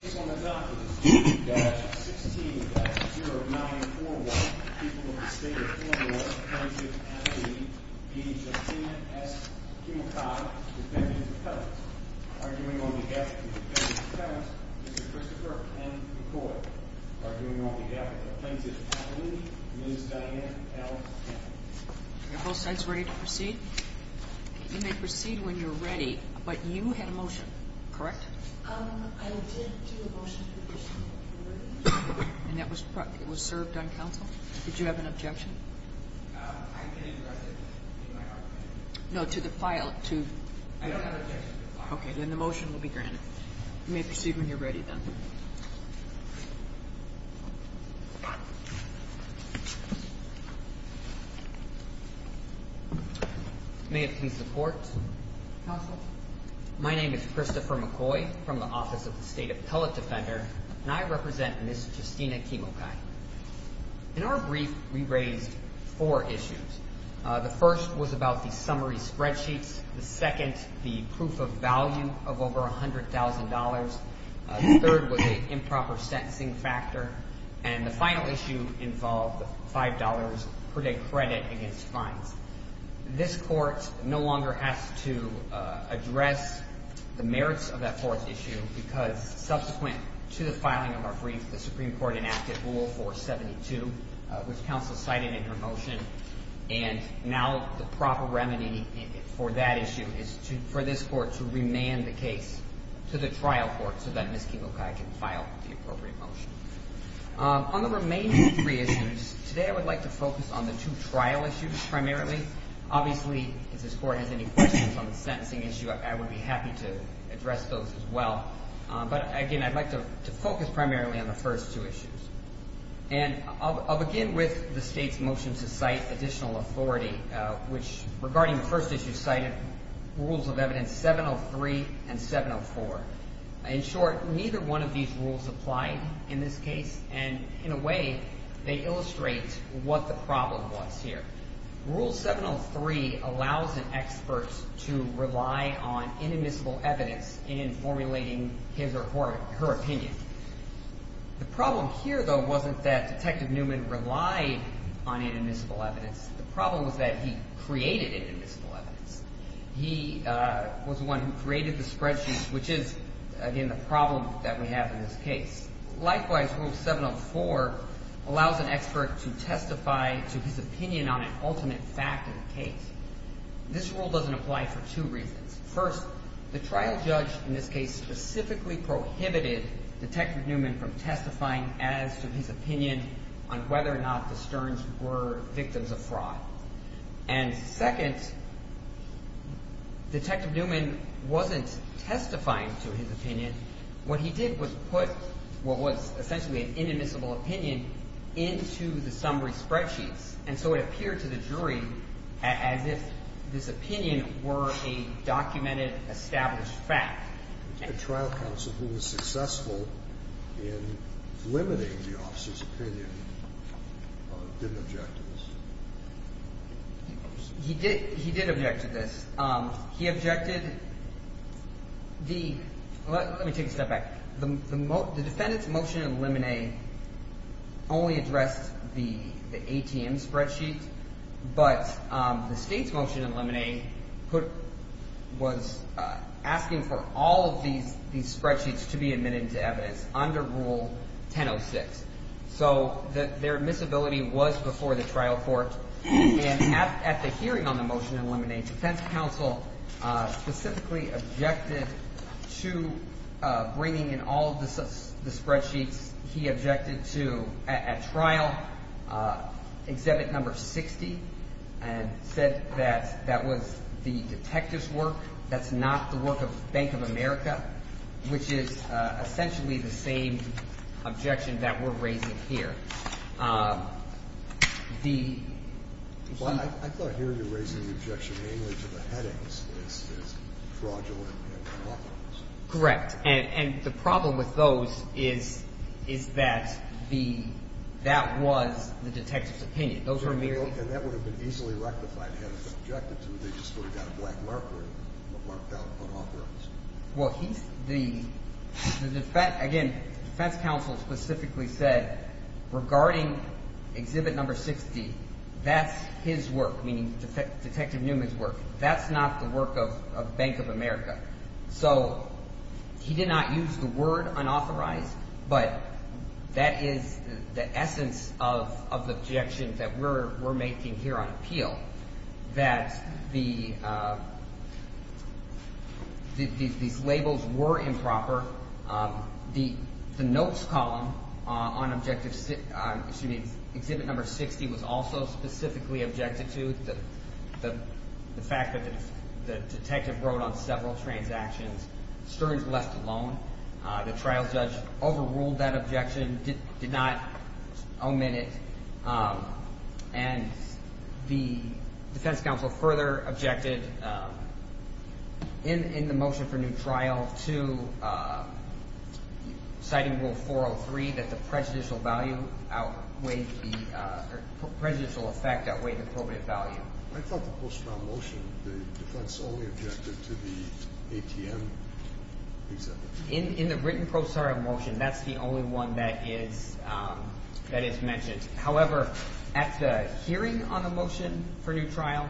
The case on the docket is 2-16-0941, people of the state of Illinois, plaintiff at the age of 10, S. Kemokai, defendants of Penance. Arguing on behalf of the defendants of Penance, Mr. Christopher N. McCoy. Arguing on behalf of the plaintiff's family, Ms. Diane L. Gaffney. Are both sides ready to proceed? You may proceed when you're ready, but you had a motion, correct? I did do a motion to proceed when you're ready. And that was served on counsel? Did you have an objection? I can address it in my argument. No, to the file. I don't have an objection to the file. Okay, then the motion will be granted. You may proceed when you're ready, then. May it please the Court? Counsel? My name is Christopher McCoy from the Office of the State Appellate Defender, and I represent Ms. Justina Kemokai. In our brief, we raised four issues. The first was about the summary spreadsheets. The second, the proof of value of over $100,000. The third was the improper sentencing factor. And the final issue involved $5 per day credit against fines. This Court no longer has to address the merits of that fourth issue because subsequent to the filing of our brief, the Supreme Court enacted Rule 472, which counsel cited in her motion. And now the proper remedy for that issue is for this Court to remand the case to the trial court so that Ms. Kemokai can file the appropriate motion. On the remaining three issues, today I would like to focus on the two trial issues primarily. Obviously, if this Court has any questions on the sentencing issue, I would be happy to address those as well. But, again, I'd like to focus primarily on the first two issues. And I'll begin with the State's motion to cite additional authority, which, regarding the first issue, cited Rules of Evidence 703 and 704. In short, neither one of these rules applied in this case, and in a way, they illustrate what the problem was here. Rule 703 allows an expert to rely on inadmissible evidence in formulating his or her opinion. The problem here, though, wasn't that Detective Newman relied on inadmissible evidence. The problem was that he created inadmissible evidence. He was the one who created the spreadsheet, which is, again, the problem that we have in this case. Likewise, Rule 704 allows an expert to testify to his opinion on an ultimate fact of the case. This rule doesn't apply for two reasons. First, the trial judge in this case specifically prohibited Detective Newman from testifying as to his opinion on whether or not the Stearns were victims of fraud. And second, Detective Newman wasn't testifying to his opinion. What he did was put what was essentially an inadmissible opinion into the summary spreadsheets, and so it appeared to the jury as if this opinion were a documented, established fact. The trial counsel who was successful in limiting the officer's opinion didn't object to this. He did object to this. He objected. Let me take a step back. The defendant's motion to eliminate only addressed the ATM spreadsheet, but the state's motion to eliminate was asking for all of these spreadsheets to be admitted to evidence under Rule 1006. So their admissibility was before the trial court. And at the hearing on the motion to eliminate, defense counsel specifically objected to bringing in all of the spreadsheets. He objected to, at trial, Exhibit No. 60, and said that that was the detective's work. That's not the work of Bank of America, which is essentially the same objection that we're raising here. I thought hearing you raising the objection mainly to the headings is fraudulent and unauthorized. Correct. And the problem with those is that the – that was the detective's opinion. Those were merely – And that would have been easily rectified had it been objected to. They just sort of got a black marker and marked out unauthorized. Well, he – the defense – again, defense counsel specifically said regarding Exhibit No. 60, that's his work, meaning Detective Newman's work. That's not the work of Bank of America. So he did not use the word unauthorized, but that is the essence of the objection that we're making here on appeal, that the – these labels were improper. The notes column on Objective – excuse me, Exhibit No. 60 was also specifically objected to, the fact that the detective wrote on several transactions. Stearns left alone. The trial judge overruled that objection, did not omit it. And the defense counsel further objected in the motion for new trial to – citing Rule 403, that the prejudicial value outweighed the – or prejudicial effect outweighed the appropriate value. I thought the post-trial motion, the defense only objected to the ATM example. In the written post-trial motion, that's the only one that is mentioned. However, at the hearing on the motion for new trial,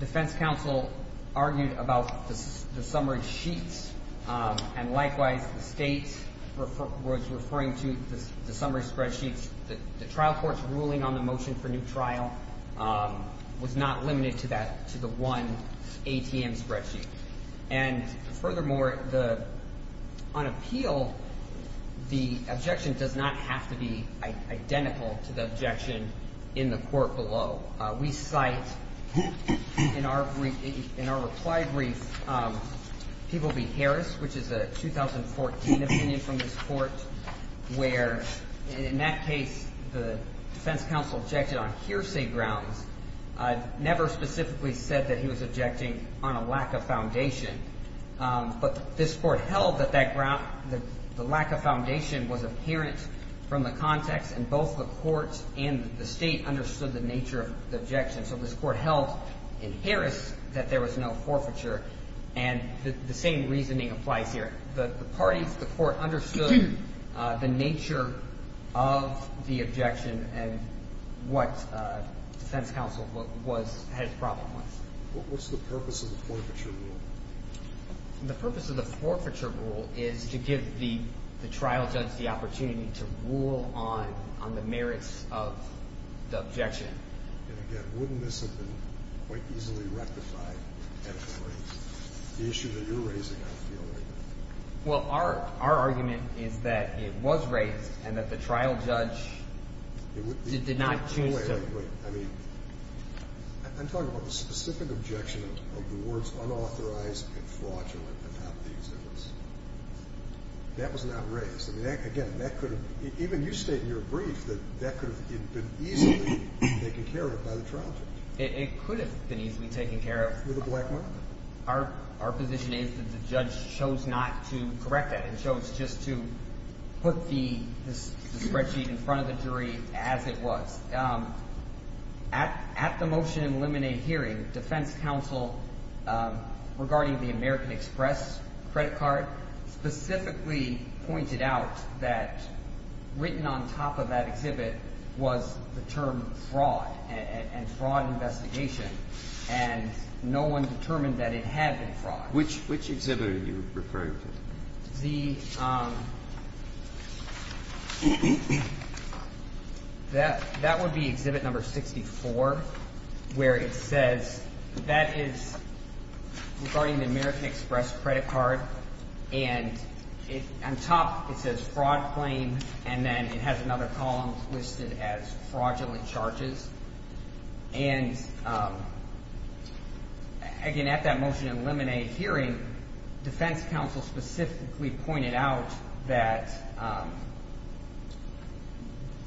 defense counsel argued about the summary sheets. And likewise, the state was referring to the summary spreadsheets. The trial court's ruling on the motion for new trial was not limited to that – to the one ATM spreadsheet. And furthermore, the – on appeal, the objection does not have to be identical to the objection in the court below. We cite, in our brief – in our reply brief, People v. Harris, which is a 2014 opinion from this court, where, in that case, the defense counsel objected on hearsay grounds, never specifically said that he was objecting on a lack of foundation. But this court held that that – the lack of foundation was apparent from the context, and both the court and the state understood the nature of the objection. So this court held in Harris that there was no forfeiture. And the same reasoning applies here. The parties of the court understood the nature of the objection and what defense counsel was – had his problem with. What's the purpose of the forfeiture rule? The purpose of the forfeiture rule is to give the trial judge the opportunity to rule on the merits of the objection. And again, wouldn't this have been quite easily rectified had it been raised? The issue that you're raising, I'm feeling. Well, our argument is that it was raised and that the trial judge did not choose to – Wait, wait, wait. I mean, I'm talking about the specific objection of the words unauthorized and fraudulent about the exemptions. That was not raised. I mean, again, that could have – even you state in your brief that that could have been easily taken care of by the trial judge. It could have been easily taken care of. With a black market. Our position is that the judge chose not to correct that. It chose just to put the spreadsheet in front of the jury as it was. At the motion and eliminate hearing, defense counsel, regarding the American Express credit card, specifically pointed out that written on top of that exhibit was the term fraud and fraud investigation. And no one determined that it had been fraud. Which exhibit are you referring to? The – that would be exhibit number 64, where it says that is regarding the American Express credit card. And on top it says fraud claim, and then it has another column listed as fraudulent charges. And, again, at that motion and eliminate hearing, defense counsel specifically pointed out that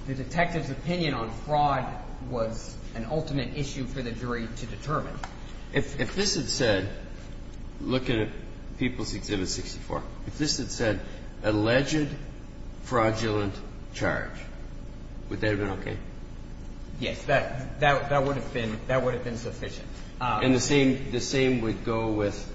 the detective's opinion on fraud was an ultimate issue for the jury to determine. If this had said – look at people's exhibit 64. If this had said alleged fraudulent charge, would that have been okay? Yes. That would have been – that would have been sufficient. And the same would go with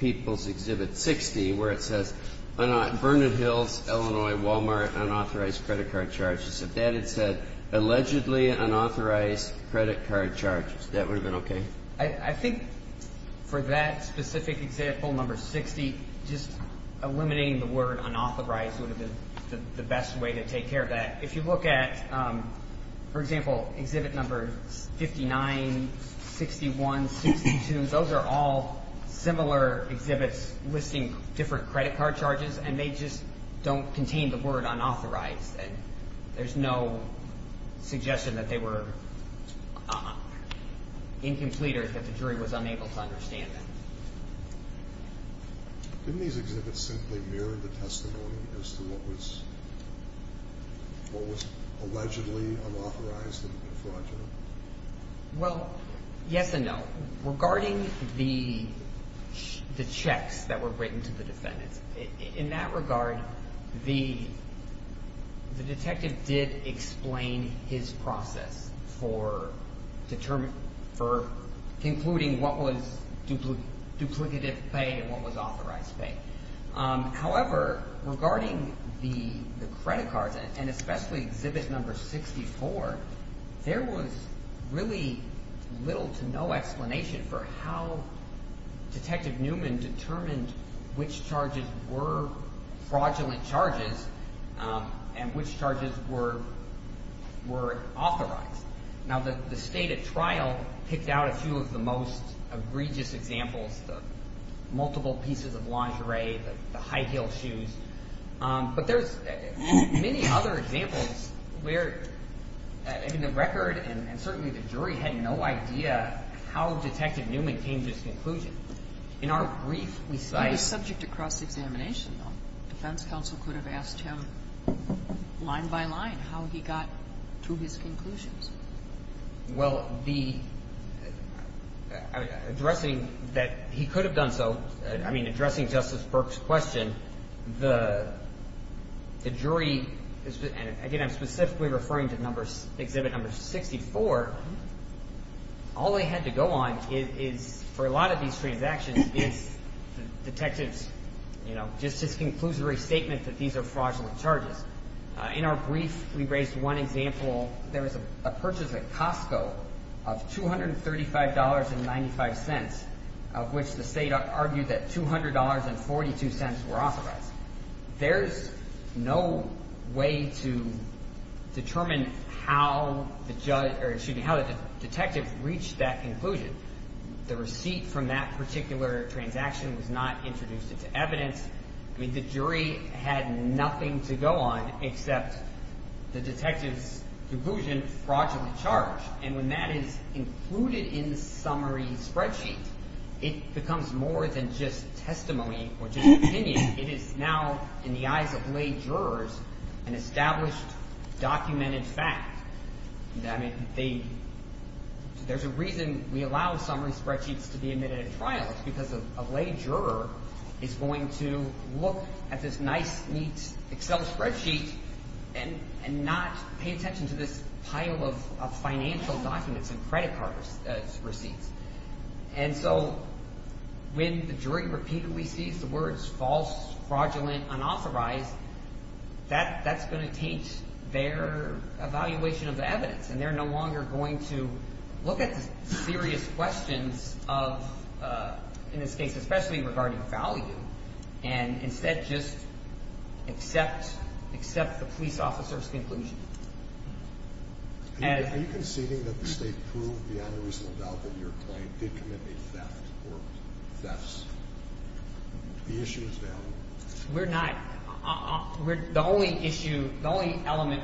people's exhibit 60, where it says Bernard Hills, Illinois, Walmart, unauthorized credit card charges. If that had said allegedly unauthorized credit card charges, that would have been okay? I think for that specific example, number 60, just eliminating the word unauthorized would have been the best way to take care of that. If you look at, for example, exhibit number 59, 61, 62, those are all similar exhibits listing different credit card charges, and they just don't contain the word unauthorized. And there's no suggestion that they were incomplete or that the jury was unable to understand them. Didn't these exhibits simply mirror the testimony as to what was allegedly unauthorized and fraudulent? Well, yes and no. Regarding the checks that were written to the defendants, in that regard, the detective did explain his process for determining – for concluding what was duplicative pay and what was authorized pay. However, regarding the credit cards, and especially exhibit number 64, there was really little to no explanation for how Detective Newman determined which charges were fraudulent charges and which charges were authorized. Now, the state at trial picked out a few of the most egregious examples, the multiple pieces of lingerie, the high-heeled shoes. But there's many other examples where, in the record, and certainly the jury had no idea how Detective Newman came to this conclusion. In our brief, we cite – defense counsel could have asked him line by line how he got to his conclusions. Well, addressing that he could have done so, I mean, addressing Justice Burke's question, the jury – and again, I'm specifically referring to exhibit number 64 – all they had to go on is, for a lot of these transactions, is detectives, you know, just this conclusory statement that these are fraudulent charges. In our brief, we raised one example. There was a purchase at Costco of $235.95, of which the state argued that $200.42 were authorized. There's no way to determine how the judge – or excuse me, how the detective reached that conclusion. The receipt from that particular transaction was not introduced into evidence. I mean, the jury had nothing to go on except the detective's conclusion, fraudulent charge. And when that is included in the summary spreadsheet, it becomes more than just testimony or just opinion. It is now, in the eyes of lay jurors, an established, documented fact. I mean, they – there's a reason we allow summary spreadsheets to be admitted at trial. It's because a lay juror is going to look at this nice, neat Excel spreadsheet and not pay attention to this pile of financial documents and credit card receipts. And so when the jury repeatedly sees the words false, fraudulent, unauthorized, that's going to taint their evaluation of the evidence. And they're no longer going to look at the serious questions of – in this case, especially regarding value and instead just accept the police officer's conclusion. Are you conceding that the state proved beyond a reasonable doubt that your client did commit a theft or thefts? The issue is valid. We're not. The only issue – the only element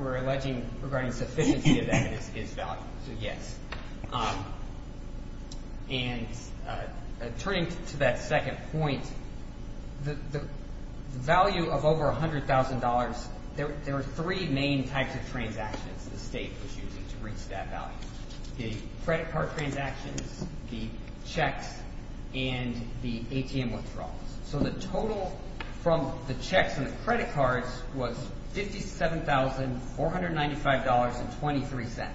we're alleging regarding sufficiency of evidence is value, so yes. And turning to that second point, the value of over $100,000, there are three main types of transactions the state was using to reach that value. The credit card transactions, the checks, and the ATM withdrawals. So the total from the checks and the credit cards was $57,495.23.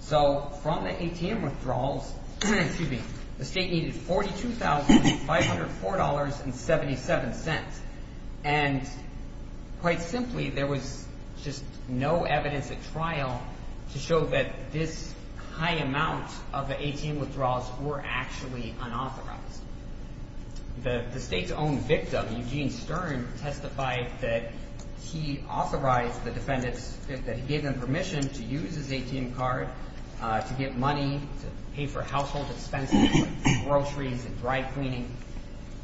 So from the ATM withdrawals – excuse me – the state needed $42,504.77. And quite simply, there was just no evidence at trial to show that this high amount of the ATM withdrawals were actually unauthorized. The state's own victim, Eugene Stern, testified that he authorized the defendants – that he gave them permission to use his ATM card to get money to pay for household expenses like groceries and dry cleaning.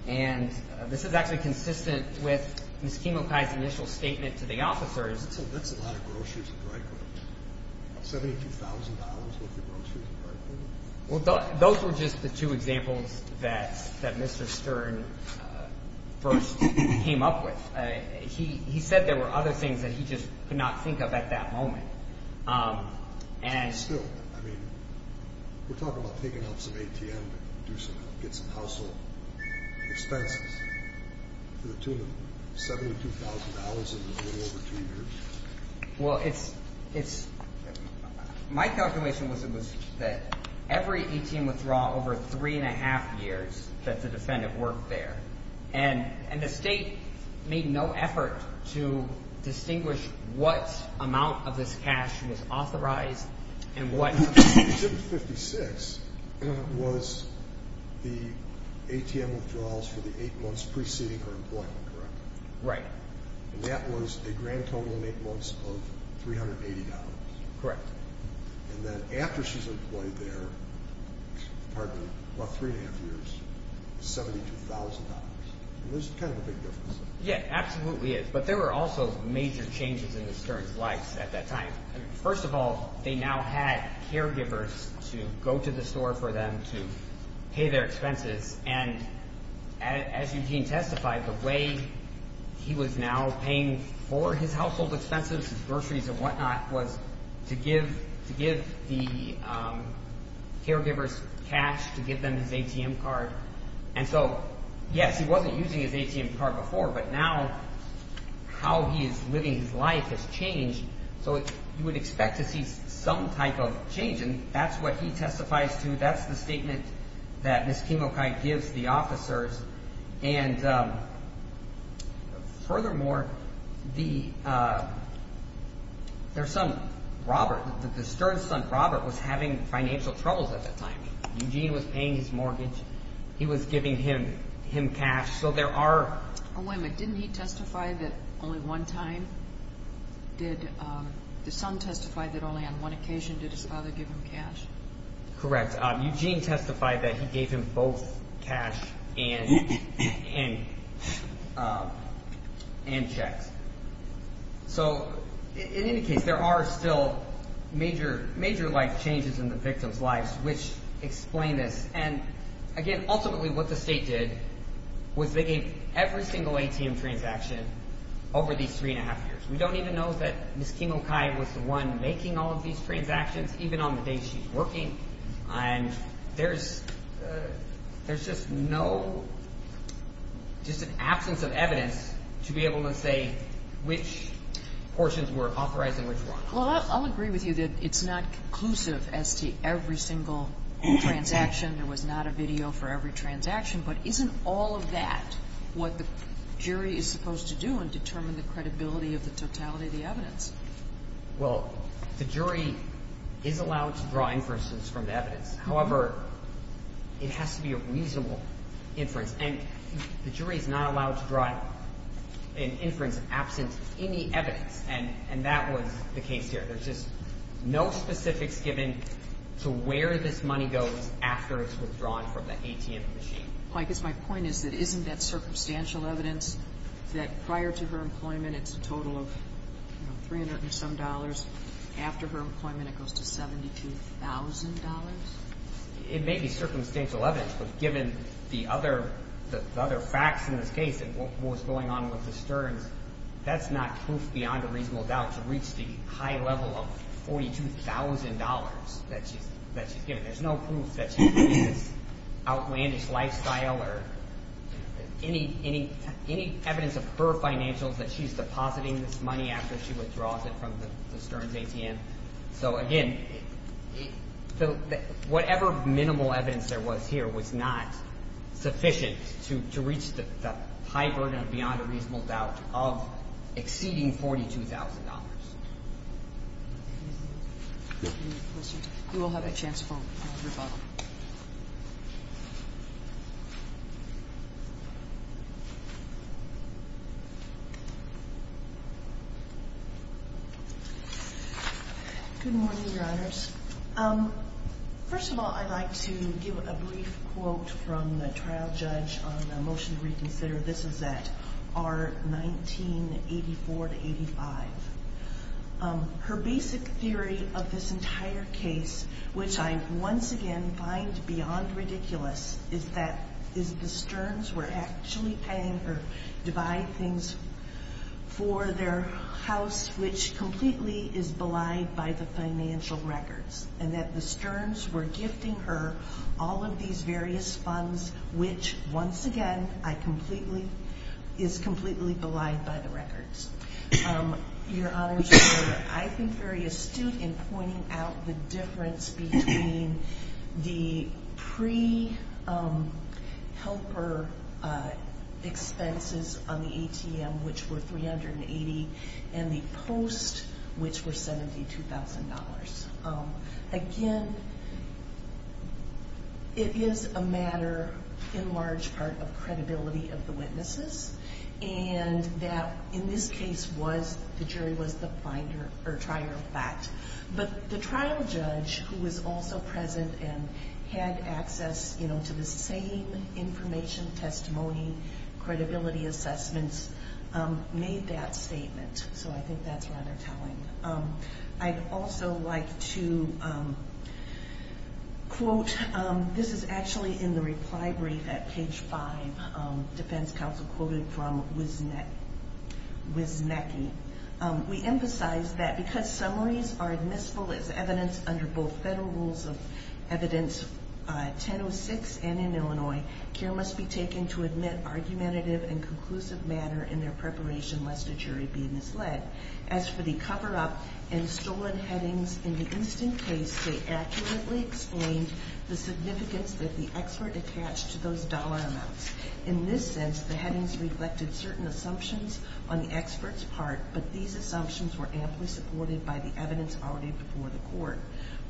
And this is actually consistent with Ms. Kimokai's initial statement to the officers. That's a lot of groceries and dry cleaning. $72,000 worth of groceries and dry cleaning? Well, those were just the two examples that Mr. Stern first came up with. He said there were other things that he just could not think of at that moment. And still, I mean, we're talking about taking out some ATM to do some – get some household expenses to the tune of $72,000 in a little over two years. Well, it's – my calculation was that every ATM withdrawal over three and a half years that the defendant worked there. And the state made no effort to distinguish what amount of this cash was authorized and what – Exhibit 56 was the ATM withdrawals for the eight months preceding her employment, correct? Right. And that was a grand total in eight months of $380. Correct. And then after she's employed there, pardon me, about three and a half years, $72,000. And this is kind of a big difference. Yeah, absolutely is. But there were also major changes in Mr. Stern's life at that time. First of all, they now had caregivers to go to the store for them to pay their expenses. And as Eugene testified, the way he was now paying for his household expenses, groceries and whatnot, was to give the caregivers cash to give them his ATM card. And so, yes, he wasn't using his ATM card before, but now how he is living his life has changed. So you would expect to see some type of change. And that's what he testifies to. That's the statement that Ms. Kimokai gives the officers. And furthermore, their son, Robert, the Stern's son, Robert, was having financial troubles at that time. Eugene was paying his mortgage. He was giving him cash. So there are – Wait a minute. Didn't he testify that only one time did – the son testified that only on one occasion did his father give him cash? Correct. Eugene testified that he gave him both cash and checks. So in any case, there are still major life changes in the victims' lives, which explain this. And, again, ultimately what the state did was they gave every single ATM transaction over these three and a half years. We don't even know that Ms. Kimokai was the one making all of these transactions, even on the day she's working. And there's just no – just an absence of evidence to be able to say which portions were authorized and which weren't. Well, I'll agree with you that it's not conclusive as to every single transaction. There was not a video for every transaction. But isn't all of that what the jury is supposed to do and determine the credibility of the totality of the evidence? Well, the jury is allowed to draw inferences from the evidence. However, it has to be a reasonable inference. And the jury is not allowed to draw an inference absent any evidence. And that was the case here. There's just no specifics given to where this money goes after it's withdrawn from the ATM machine. Well, I guess my point is that isn't that circumstantial evidence that prior to her employment, it's a total of, you know, $300 and some. After her employment, it goes to $72,000? It may be circumstantial evidence. But given the other facts in this case and what was going on with the Stearns, that's not proof beyond a reasonable doubt to reach the high level of $42,000 that she's given. There's no proof that she's given this outlandish lifestyle or any evidence of her financials that she's depositing this money after she withdraws it from the Stearns ATM. So, again, whatever minimal evidence there was here was not sufficient to reach the high burden of beyond a reasonable doubt of exceeding $42,000. You will have a chance to vote. Good morning, Your Honors. First of all, I'd like to give a brief quote from the trial judge on the motion to reconsider. This is at R1984-85. Her basic theory of this entire case, which I once again find beyond ridiculous, is that the Stearns were actually paying her to buy things for their house, which completely is belied by the financial records, and that the Stearns were gifting her all of these various funds, which, once again, is completely belied by the records. Your Honors, you were, I think, very astute in pointing out the difference between the pre-helper expenses on the ATM, which were $380,000, and the post, which were $72,000. Again, it is a matter, in large part, of credibility of the witnesses, and that, in this case, the jury was the finder or trier of fact. But the trial judge, who was also present and had access to the same information, testimony, credibility assessments, made that statement. So I think that's rather telling. I'd also like to quote. This is actually in the reply brief at page 5. Defense counsel quoted from Wisnecki. We emphasize that because summaries are admissible as evidence under both federal rules of evidence 1006 and in Illinois, care must be taken to admit argumentative and conclusive matter in their preparation lest a jury be misled. As for the cover-up and stolen headings in the instant case, they accurately explained the significance that the expert attached to those dollar amounts. In this sense, the headings reflected certain assumptions on the expert's part, but these assumptions were amply supported by the evidence already before the court.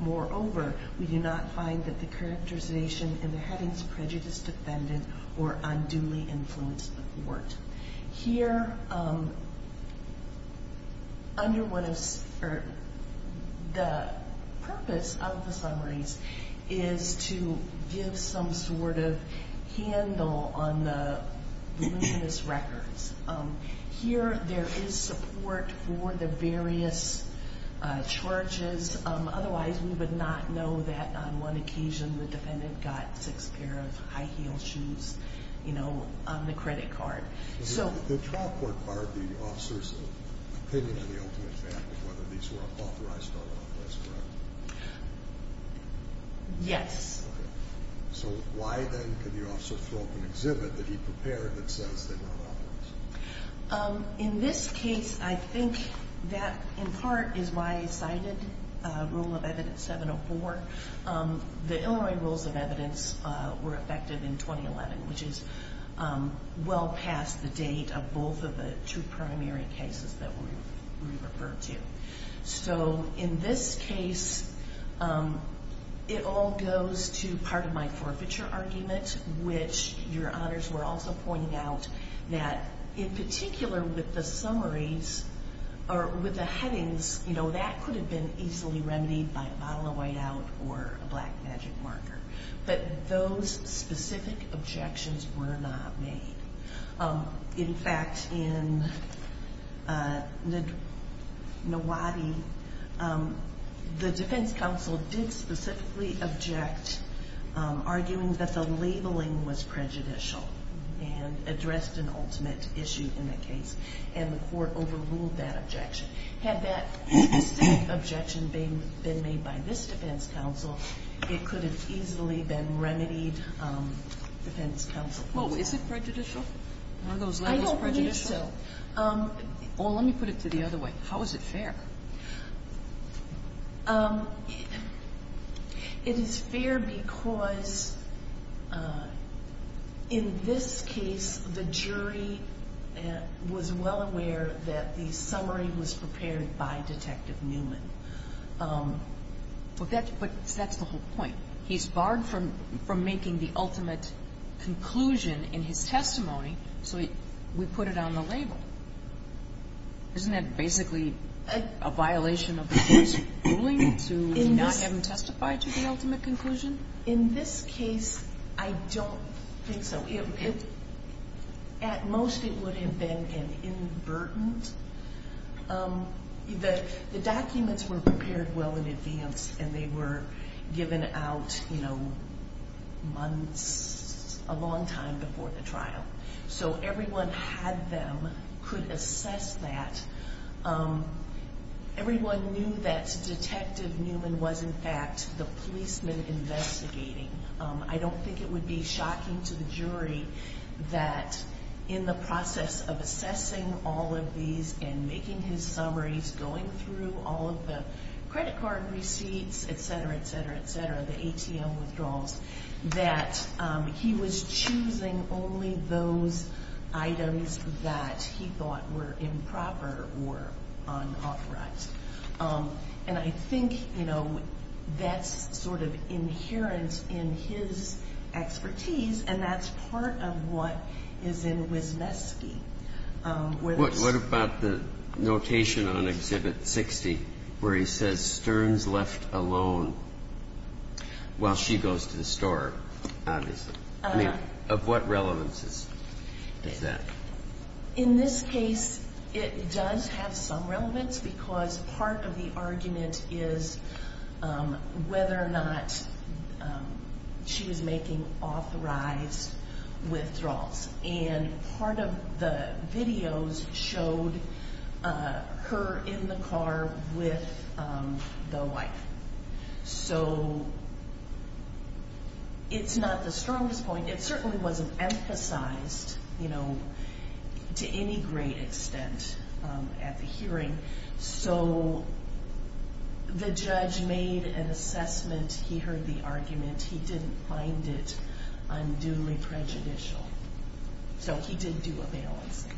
Moreover, we do not find that the characterization in the headings prejudiced the defendant or unduly influenced the court. Here, the purpose of the summaries is to give some sort of handle on the reluctantness records. Here, there is support for the various charges. Otherwise, we would not know that on one occasion the defendant got six pairs of high-heeled shoes on the credit card. The trial court barred the officer's opinion of the ultimate fact of whether these were authorized or unauthorized, correct? Yes. So why then could the officer throw up an exhibit that he prepared that says they were unauthorized? In this case, I think that in part is why I cited Rule of Evidence 704. The Illinois Rules of Evidence were effected in 2011, which is well past the date of both of the two primary cases that we referred to. So in this case, it all goes to part of my forfeiture argument, which your honors were also pointing out that in particular with the summaries or with the headings, that could have been easily remedied by a bottle of white-out or a black magic marker. But those specific objections were not made. In fact, in the NAWADI, the defense counsel did specifically object, arguing that the labeling was prejudicial and addressed an ultimate issue in the case. And the court overruled that objection. Had that specific objection been made by this defense counsel, it could have easily been remedied defense counsel. Well, is it prejudicial? Are those labels prejudicial? I don't believe so. Well, let me put it to the other way. How is it fair? It is fair because in this case, the jury was well aware that the summary was prepared by Detective Newman. But that's the whole point. He's barred from making the ultimate conclusion in his testimony, so we put it on the label. Isn't that basically a violation of the court's ruling to not have him testify to the ultimate conclusion? In this case, I don't think so. At most, it would have been an invertent. The documents were prepared well in advance, and they were given out months, a long time before the trial. So everyone had them, could assess that. Everyone knew that Detective Newman was, in fact, the policeman investigating. I don't think it would be shocking to the jury that in the process of assessing all of these and making his summaries, going through all of the credit card receipts, et cetera, et cetera, et cetera, the ATM withdrawals, that he was choosing only those items that he thought were improper or unauthorized. And I think that's sort of inherent in his expertise, and that's part of what is in Wisniewski. What about the notation on Exhibit 60 where he says, while she goes to the store, obviously? I mean, of what relevance is that? In this case, it does have some relevance because part of the argument is whether or not she was making authorized withdrawals. And part of the videos showed her in the car with the wife. So it's not the strongest point. It certainly wasn't emphasized to any great extent at the hearing. So the judge made an assessment. He heard the argument. He didn't find it unduly prejudicial. So he did do a balancing.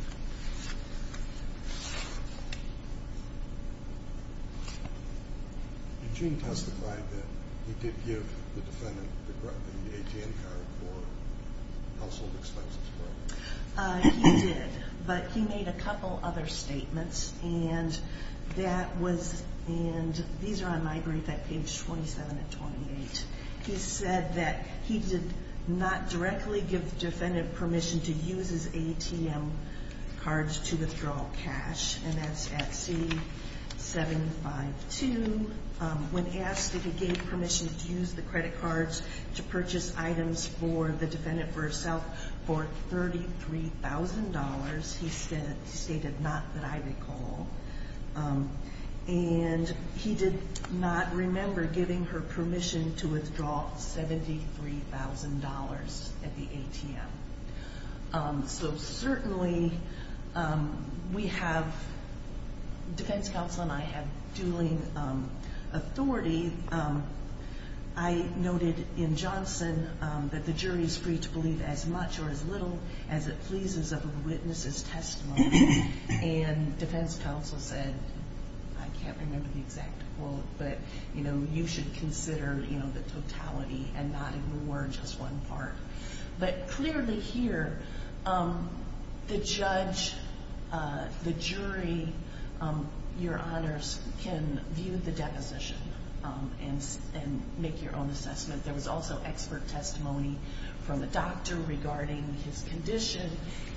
And Gene testified that he did give the defendant the ATM card for household expenses, correct? He did, but he made a couple other statements, and these are on my brief at page 27 and 28. He said that he did not directly give the defendant permission to use his ATM cards to withdraw cash, and that's at C752. When asked if he gave permission to use the credit cards to purchase items for the defendant herself for $33,000, he stated, not that I recall. And he did not remember giving her permission to withdraw $73,000 at the ATM. So certainly we have, defense counsel and I have dueling authority. I noted in Johnson that the jury is free to believe as much or as little as it pleases of a witness's testimony, and defense counsel said, I can't remember the exact quote, but, you know, you should consider, you know, the totality and not ignore just one part. But clearly here, the judge, the jury, your honors can view the deposition and make your own assessment. There was also expert testimony from the doctor regarding his condition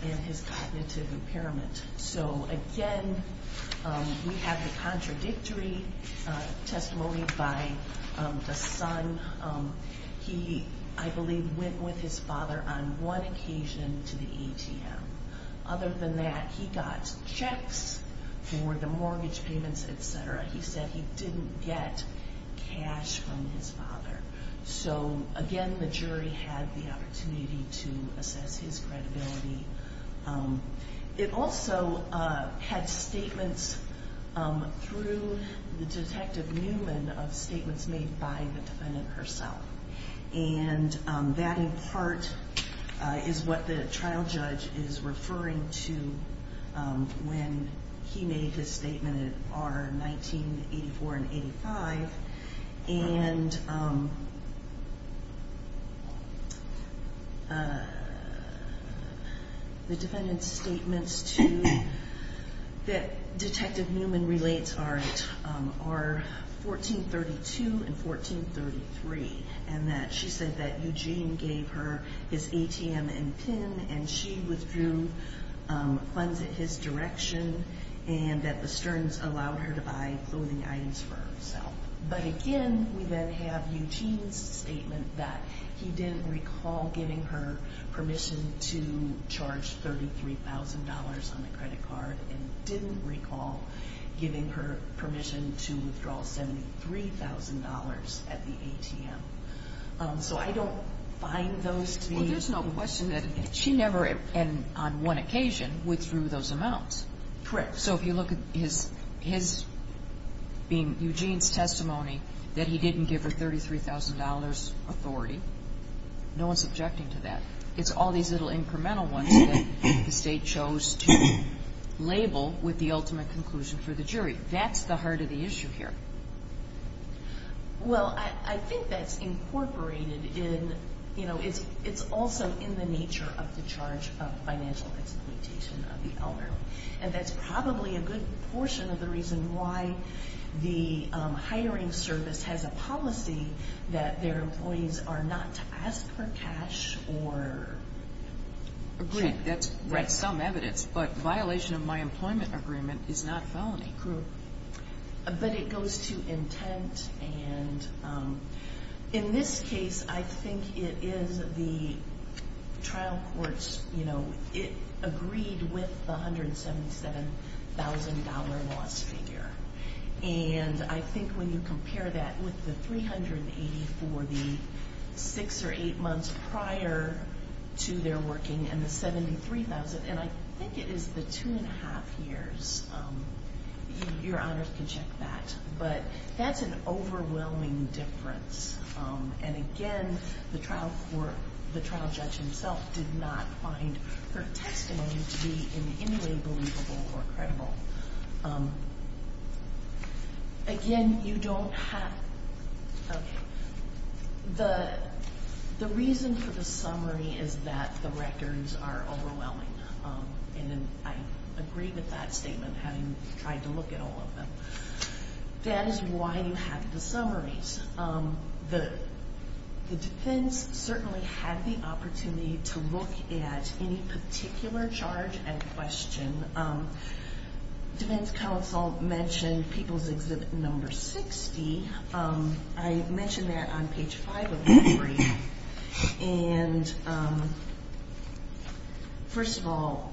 and his cognitive impairment. So again, we have the contradictory testimony by the son. He, I believe, went with his father on one occasion to the ATM. Other than that, he got checks for the mortgage payments, et cetera. He said he didn't get cash from his father. So again, the jury had the opportunity to assess his credibility. It also had statements through the Detective Newman of statements made by the defendant herself. And that, in part, is what the trial judge is referring to when he made his statement in R1984 and 85. And the defendant's statements that Detective Newman relates are R1432 and R1433, and that she said that Eugene gave her his ATM and PIN, and she withdrew funds in his direction, and that the Stearns allowed her to buy clothing items for herself. But again, we then have Eugene's statement that he didn't recall giving her permission to charge $33,000 on the credit card and didn't recall giving her permission to withdraw $73,000 at the ATM. So I don't find those to be... Correct. So if you look at his being Eugene's testimony that he didn't give her $33,000 authority, no one's objecting to that. It's all these little incremental ones that the State chose to label with the ultimate conclusion for the jury. That's the heart of the issue here. Well, I think that's incorporated in, you know, it's also in the nature of the charge of financial exploitation of the elderly. And that's probably a good portion of the reason why the hiring service has a policy that their employees are not to ask for cash or... Agreed. That's some evidence. But violation of my employment agreement is not felony. True. But it goes to intent. And in this case, I think it is the trial courts, you know, it agreed with the $177,000 loss figure. And I think when you compare that with the $380,000 for the six or eight months prior to their working and the $73,000, and I think it is the two and a half years. Your honors can check that. But that's an overwhelming difference. And again, the trial court, the trial judge himself did not find her testimony to be in any way believable or credible. Again, you don't have... Okay. The reason for the summary is that the records are overwhelming. And I agree with that statement, having tried to look at all of them. That is why you have the summaries. The defense certainly had the opportunity to look at any particular charge and question. Defense counsel mentioned People's Exhibit No. 60. I mentioned that on page 5 of the brief. And first of all,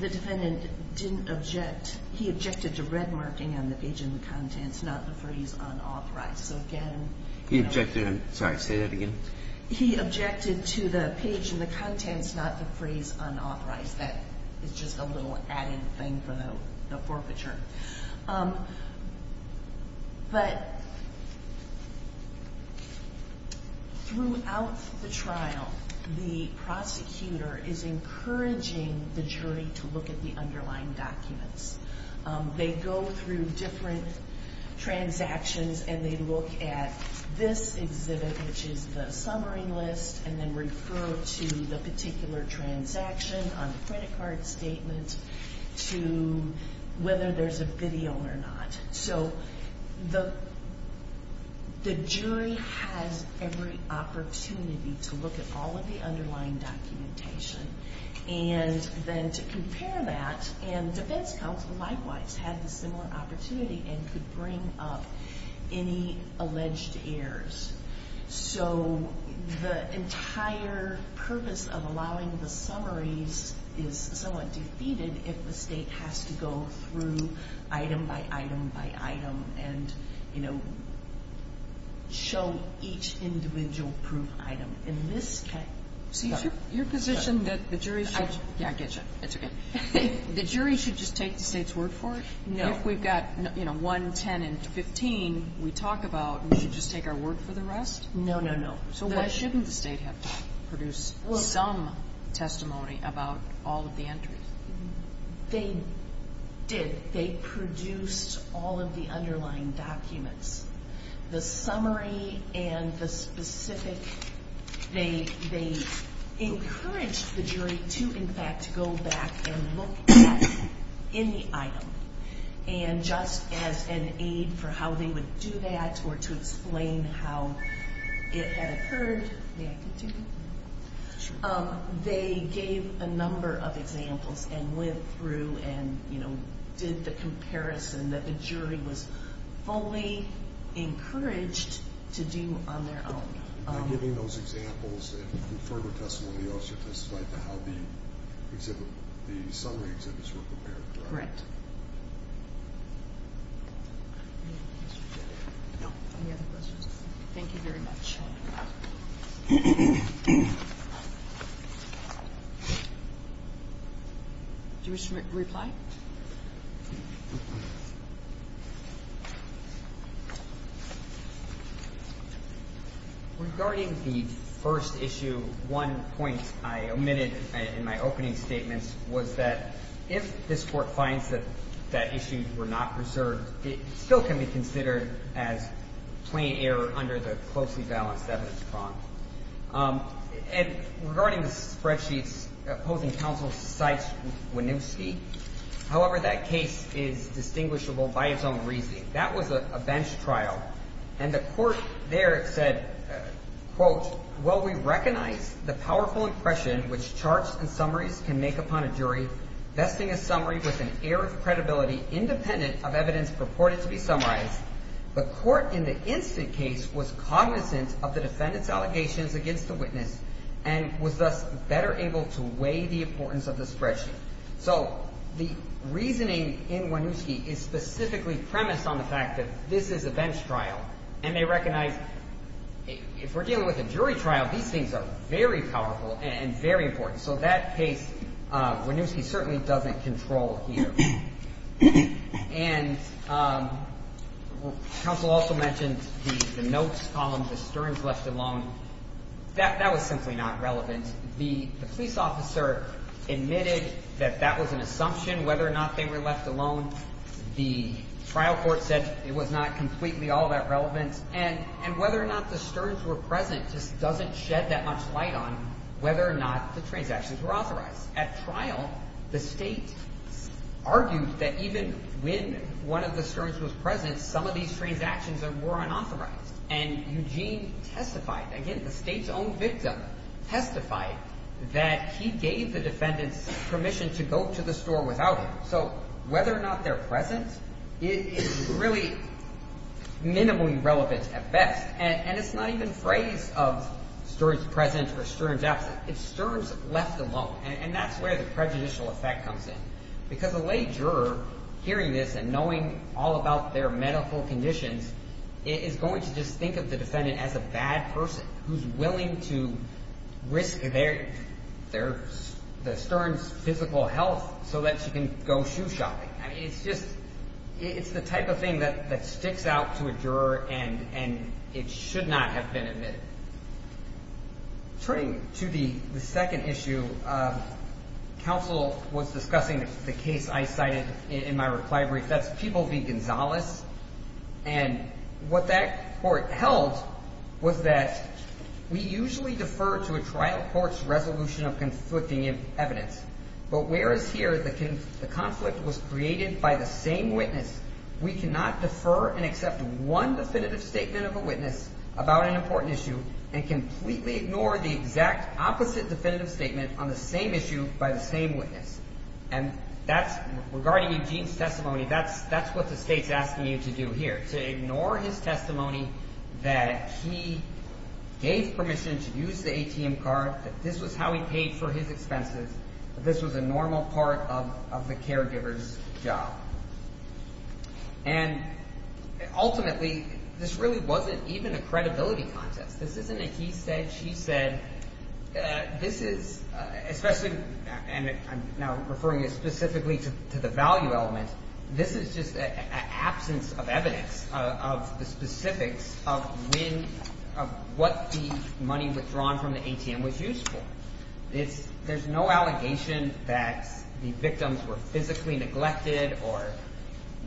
the defendant didn't object. He objected to red marking on the page and the contents, not the phrase unauthorized. So again... He objected to... Sorry, say that again. He objected to the page and the contents, not the phrase unauthorized. That is just a little added thing for the forfeiture. But throughout the trial, the prosecutor is encouraging the jury to look at the underlying documents. They go through different transactions and they look at this exhibit, which is the summary list, and then refer to the particular transaction on the credit card statement to whether there's a video or not. So the jury has every opportunity to look at all of the underlying documentation. And then to compare that, and defense counsel likewise had the similar opportunity and could bring up any alleged errors. So the entire purpose of allowing the summaries is somewhat defeated if the state has to go through item by item by item and, you know, show each individual proof item. In this case... So your position that the jury should... Yeah, I get you. That's okay. The jury should just take the state's word for it? No. If we've got, you know, 1, 10, and 15, we talk about we should just take our word for the rest? No, no, no. So why shouldn't the state have to produce some testimony about all of the entries? They did. They produced all of the underlying documents. The summary and the specific... They encouraged the jury to, in fact, go back and look at any item. And just as an aid for how they would do that or to explain how it had occurred, they gave a number of examples and went through and, you know, did the comparison that the jury was fully encouraged to do on their own. By giving those examples and further testimony, they also testified to how the summary exhibits were prepared, correct? Correct. Any other questions? Thank you very much. Do you wish to reply? Regarding the first issue, one point I omitted in my opening statements was that if this Court finds that that issue were not preserved, it still can be considered as plain error under the closely balanced evidence prompt. And regarding the spreadsheets opposing counsel, cite Winooski, however, that case is distinguishable by its own reasoning. That was a bench trial. And the Court there said, quote, well, we recognize the powerful impression which charts and summaries can make upon a jury, vesting a summary with an air of credibility independent of evidence purported to be summarized. The Court in the instant case was cognizant of the defendant's allegations against the witness and was thus better able to weigh the importance of the spreadsheet. So the reasoning in Winooski is specifically premised on the fact that this is a bench trial and they recognize if we're dealing with a jury trial, these things are very powerful and very important. So that case, Winooski certainly doesn't control here. And counsel also mentioned the notes column, the sterns left alone. That was simply not relevant. The police officer admitted that that was an assumption, whether or not they were left alone. The trial court said it was not completely all that relevant. And whether or not the sterns were present just doesn't shed that much light on whether or not the transactions were authorized. At trial, the state argued that even when one of the sterns was present, some of these transactions were unauthorized. And Eugene testified, again, the state's own victim testified that he gave the defendant's permission to go to the store without him. So whether or not they're present is really minimally relevant at best. And it's not even a phrase of sterns present or sterns absent. It's sterns left alone. And that's where the prejudicial effect comes in. Because a lay juror hearing this and knowing all about their medical conditions is going to just think of the defendant as a bad person who's willing to risk the stern's physical health so that she can go shoe shopping. I mean, it's just the type of thing that sticks out to a juror and it should not have been admitted. Turning to the second issue, counsel was discussing the case I cited in my reply brief. That's People v. Gonzales. And what that court held was that we usually defer to a trial court's resolution of conflicting evidence. But whereas here the conflict was created by the same witness, we cannot defer and accept one definitive statement of a witness about an important issue and completely ignore the exact opposite definitive statement on the same issue by the same witness. And that's regarding Eugene's testimony, that's what the state's asking you to do here, to ignore his testimony that he gave permission to use the ATM card, that this was how he paid for his expenses, that this was a normal part of the caregiver's job. And ultimately, this really wasn't even a credibility contest. This isn't a he said, she said. This is, especially, and I'm now referring specifically to the value element, this is just an absence of evidence of the specifics of when, of what the money withdrawn from the ATM was used for. There's no allegation that the victims were physically neglected or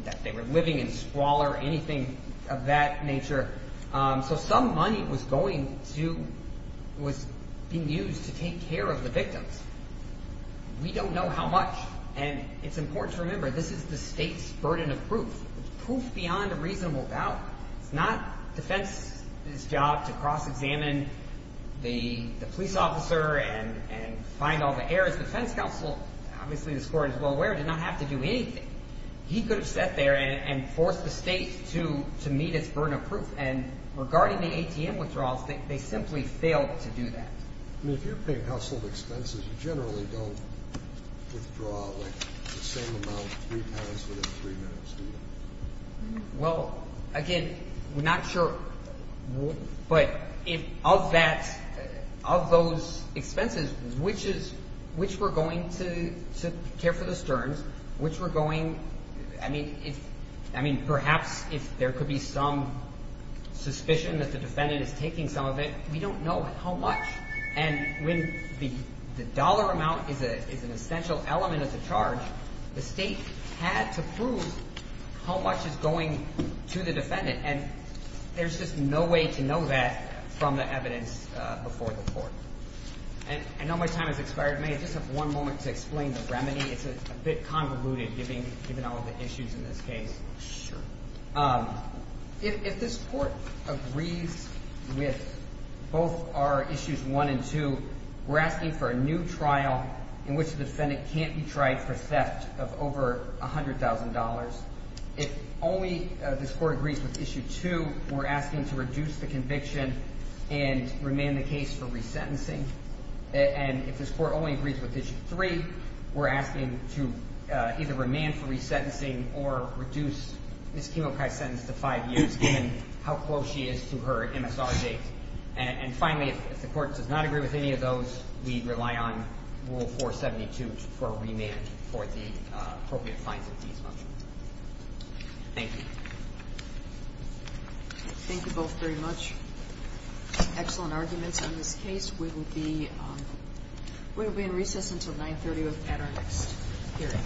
that they were living in squalor or anything of that nature. So some money was going to, was being used to take care of the victims. We don't know how much. And it's important to remember, this is the state's burden of proof. It's proof beyond a reasonable doubt. It's not defense's job to cross-examine the police officer and find all the errors. Defense counsel, obviously this court is well aware, did not have to do anything. He could have sat there and forced the state to meet its burden of proof. And regarding the ATM withdrawals, they simply failed to do that. I mean, if you're paying household expenses, you generally don't withdraw, like, the same amount three times within three minutes, do you? Well, again, we're not sure. But of that, of those expenses, which were going to care for the Stearns, which were going, I mean, perhaps if there could be some suspicion that the defendant is taking some of it, we don't know how much. And when the dollar amount is an essential element of the charge, the state had to prove how much is going to the defendant. And there's just no way to know that from the evidence before the court. I know my time has expired. May I just have one moment to explain the remedy? It's a bit convoluted, given all of the issues in this case. Sure. If this court agrees with both our issues one and two, we're asking for a new trial in which the defendant can't be tried for theft of over $100,000. If only this court agrees with issue two, we're asking to reduce the conviction and remand the case for resentencing. And if this court only agrees with issue three, we're asking to either remand for resentencing or reduce Ms. Kimokai's sentence to five years, given how close she is to her MSR date. And finally, if the court does not agree with any of those, we'd rely on Rule 472 for a remand for the appropriate fines of these funds. Thank you. Thank you both very much. Excellent arguments on this case. We will be in recess until 930 at our next hearing.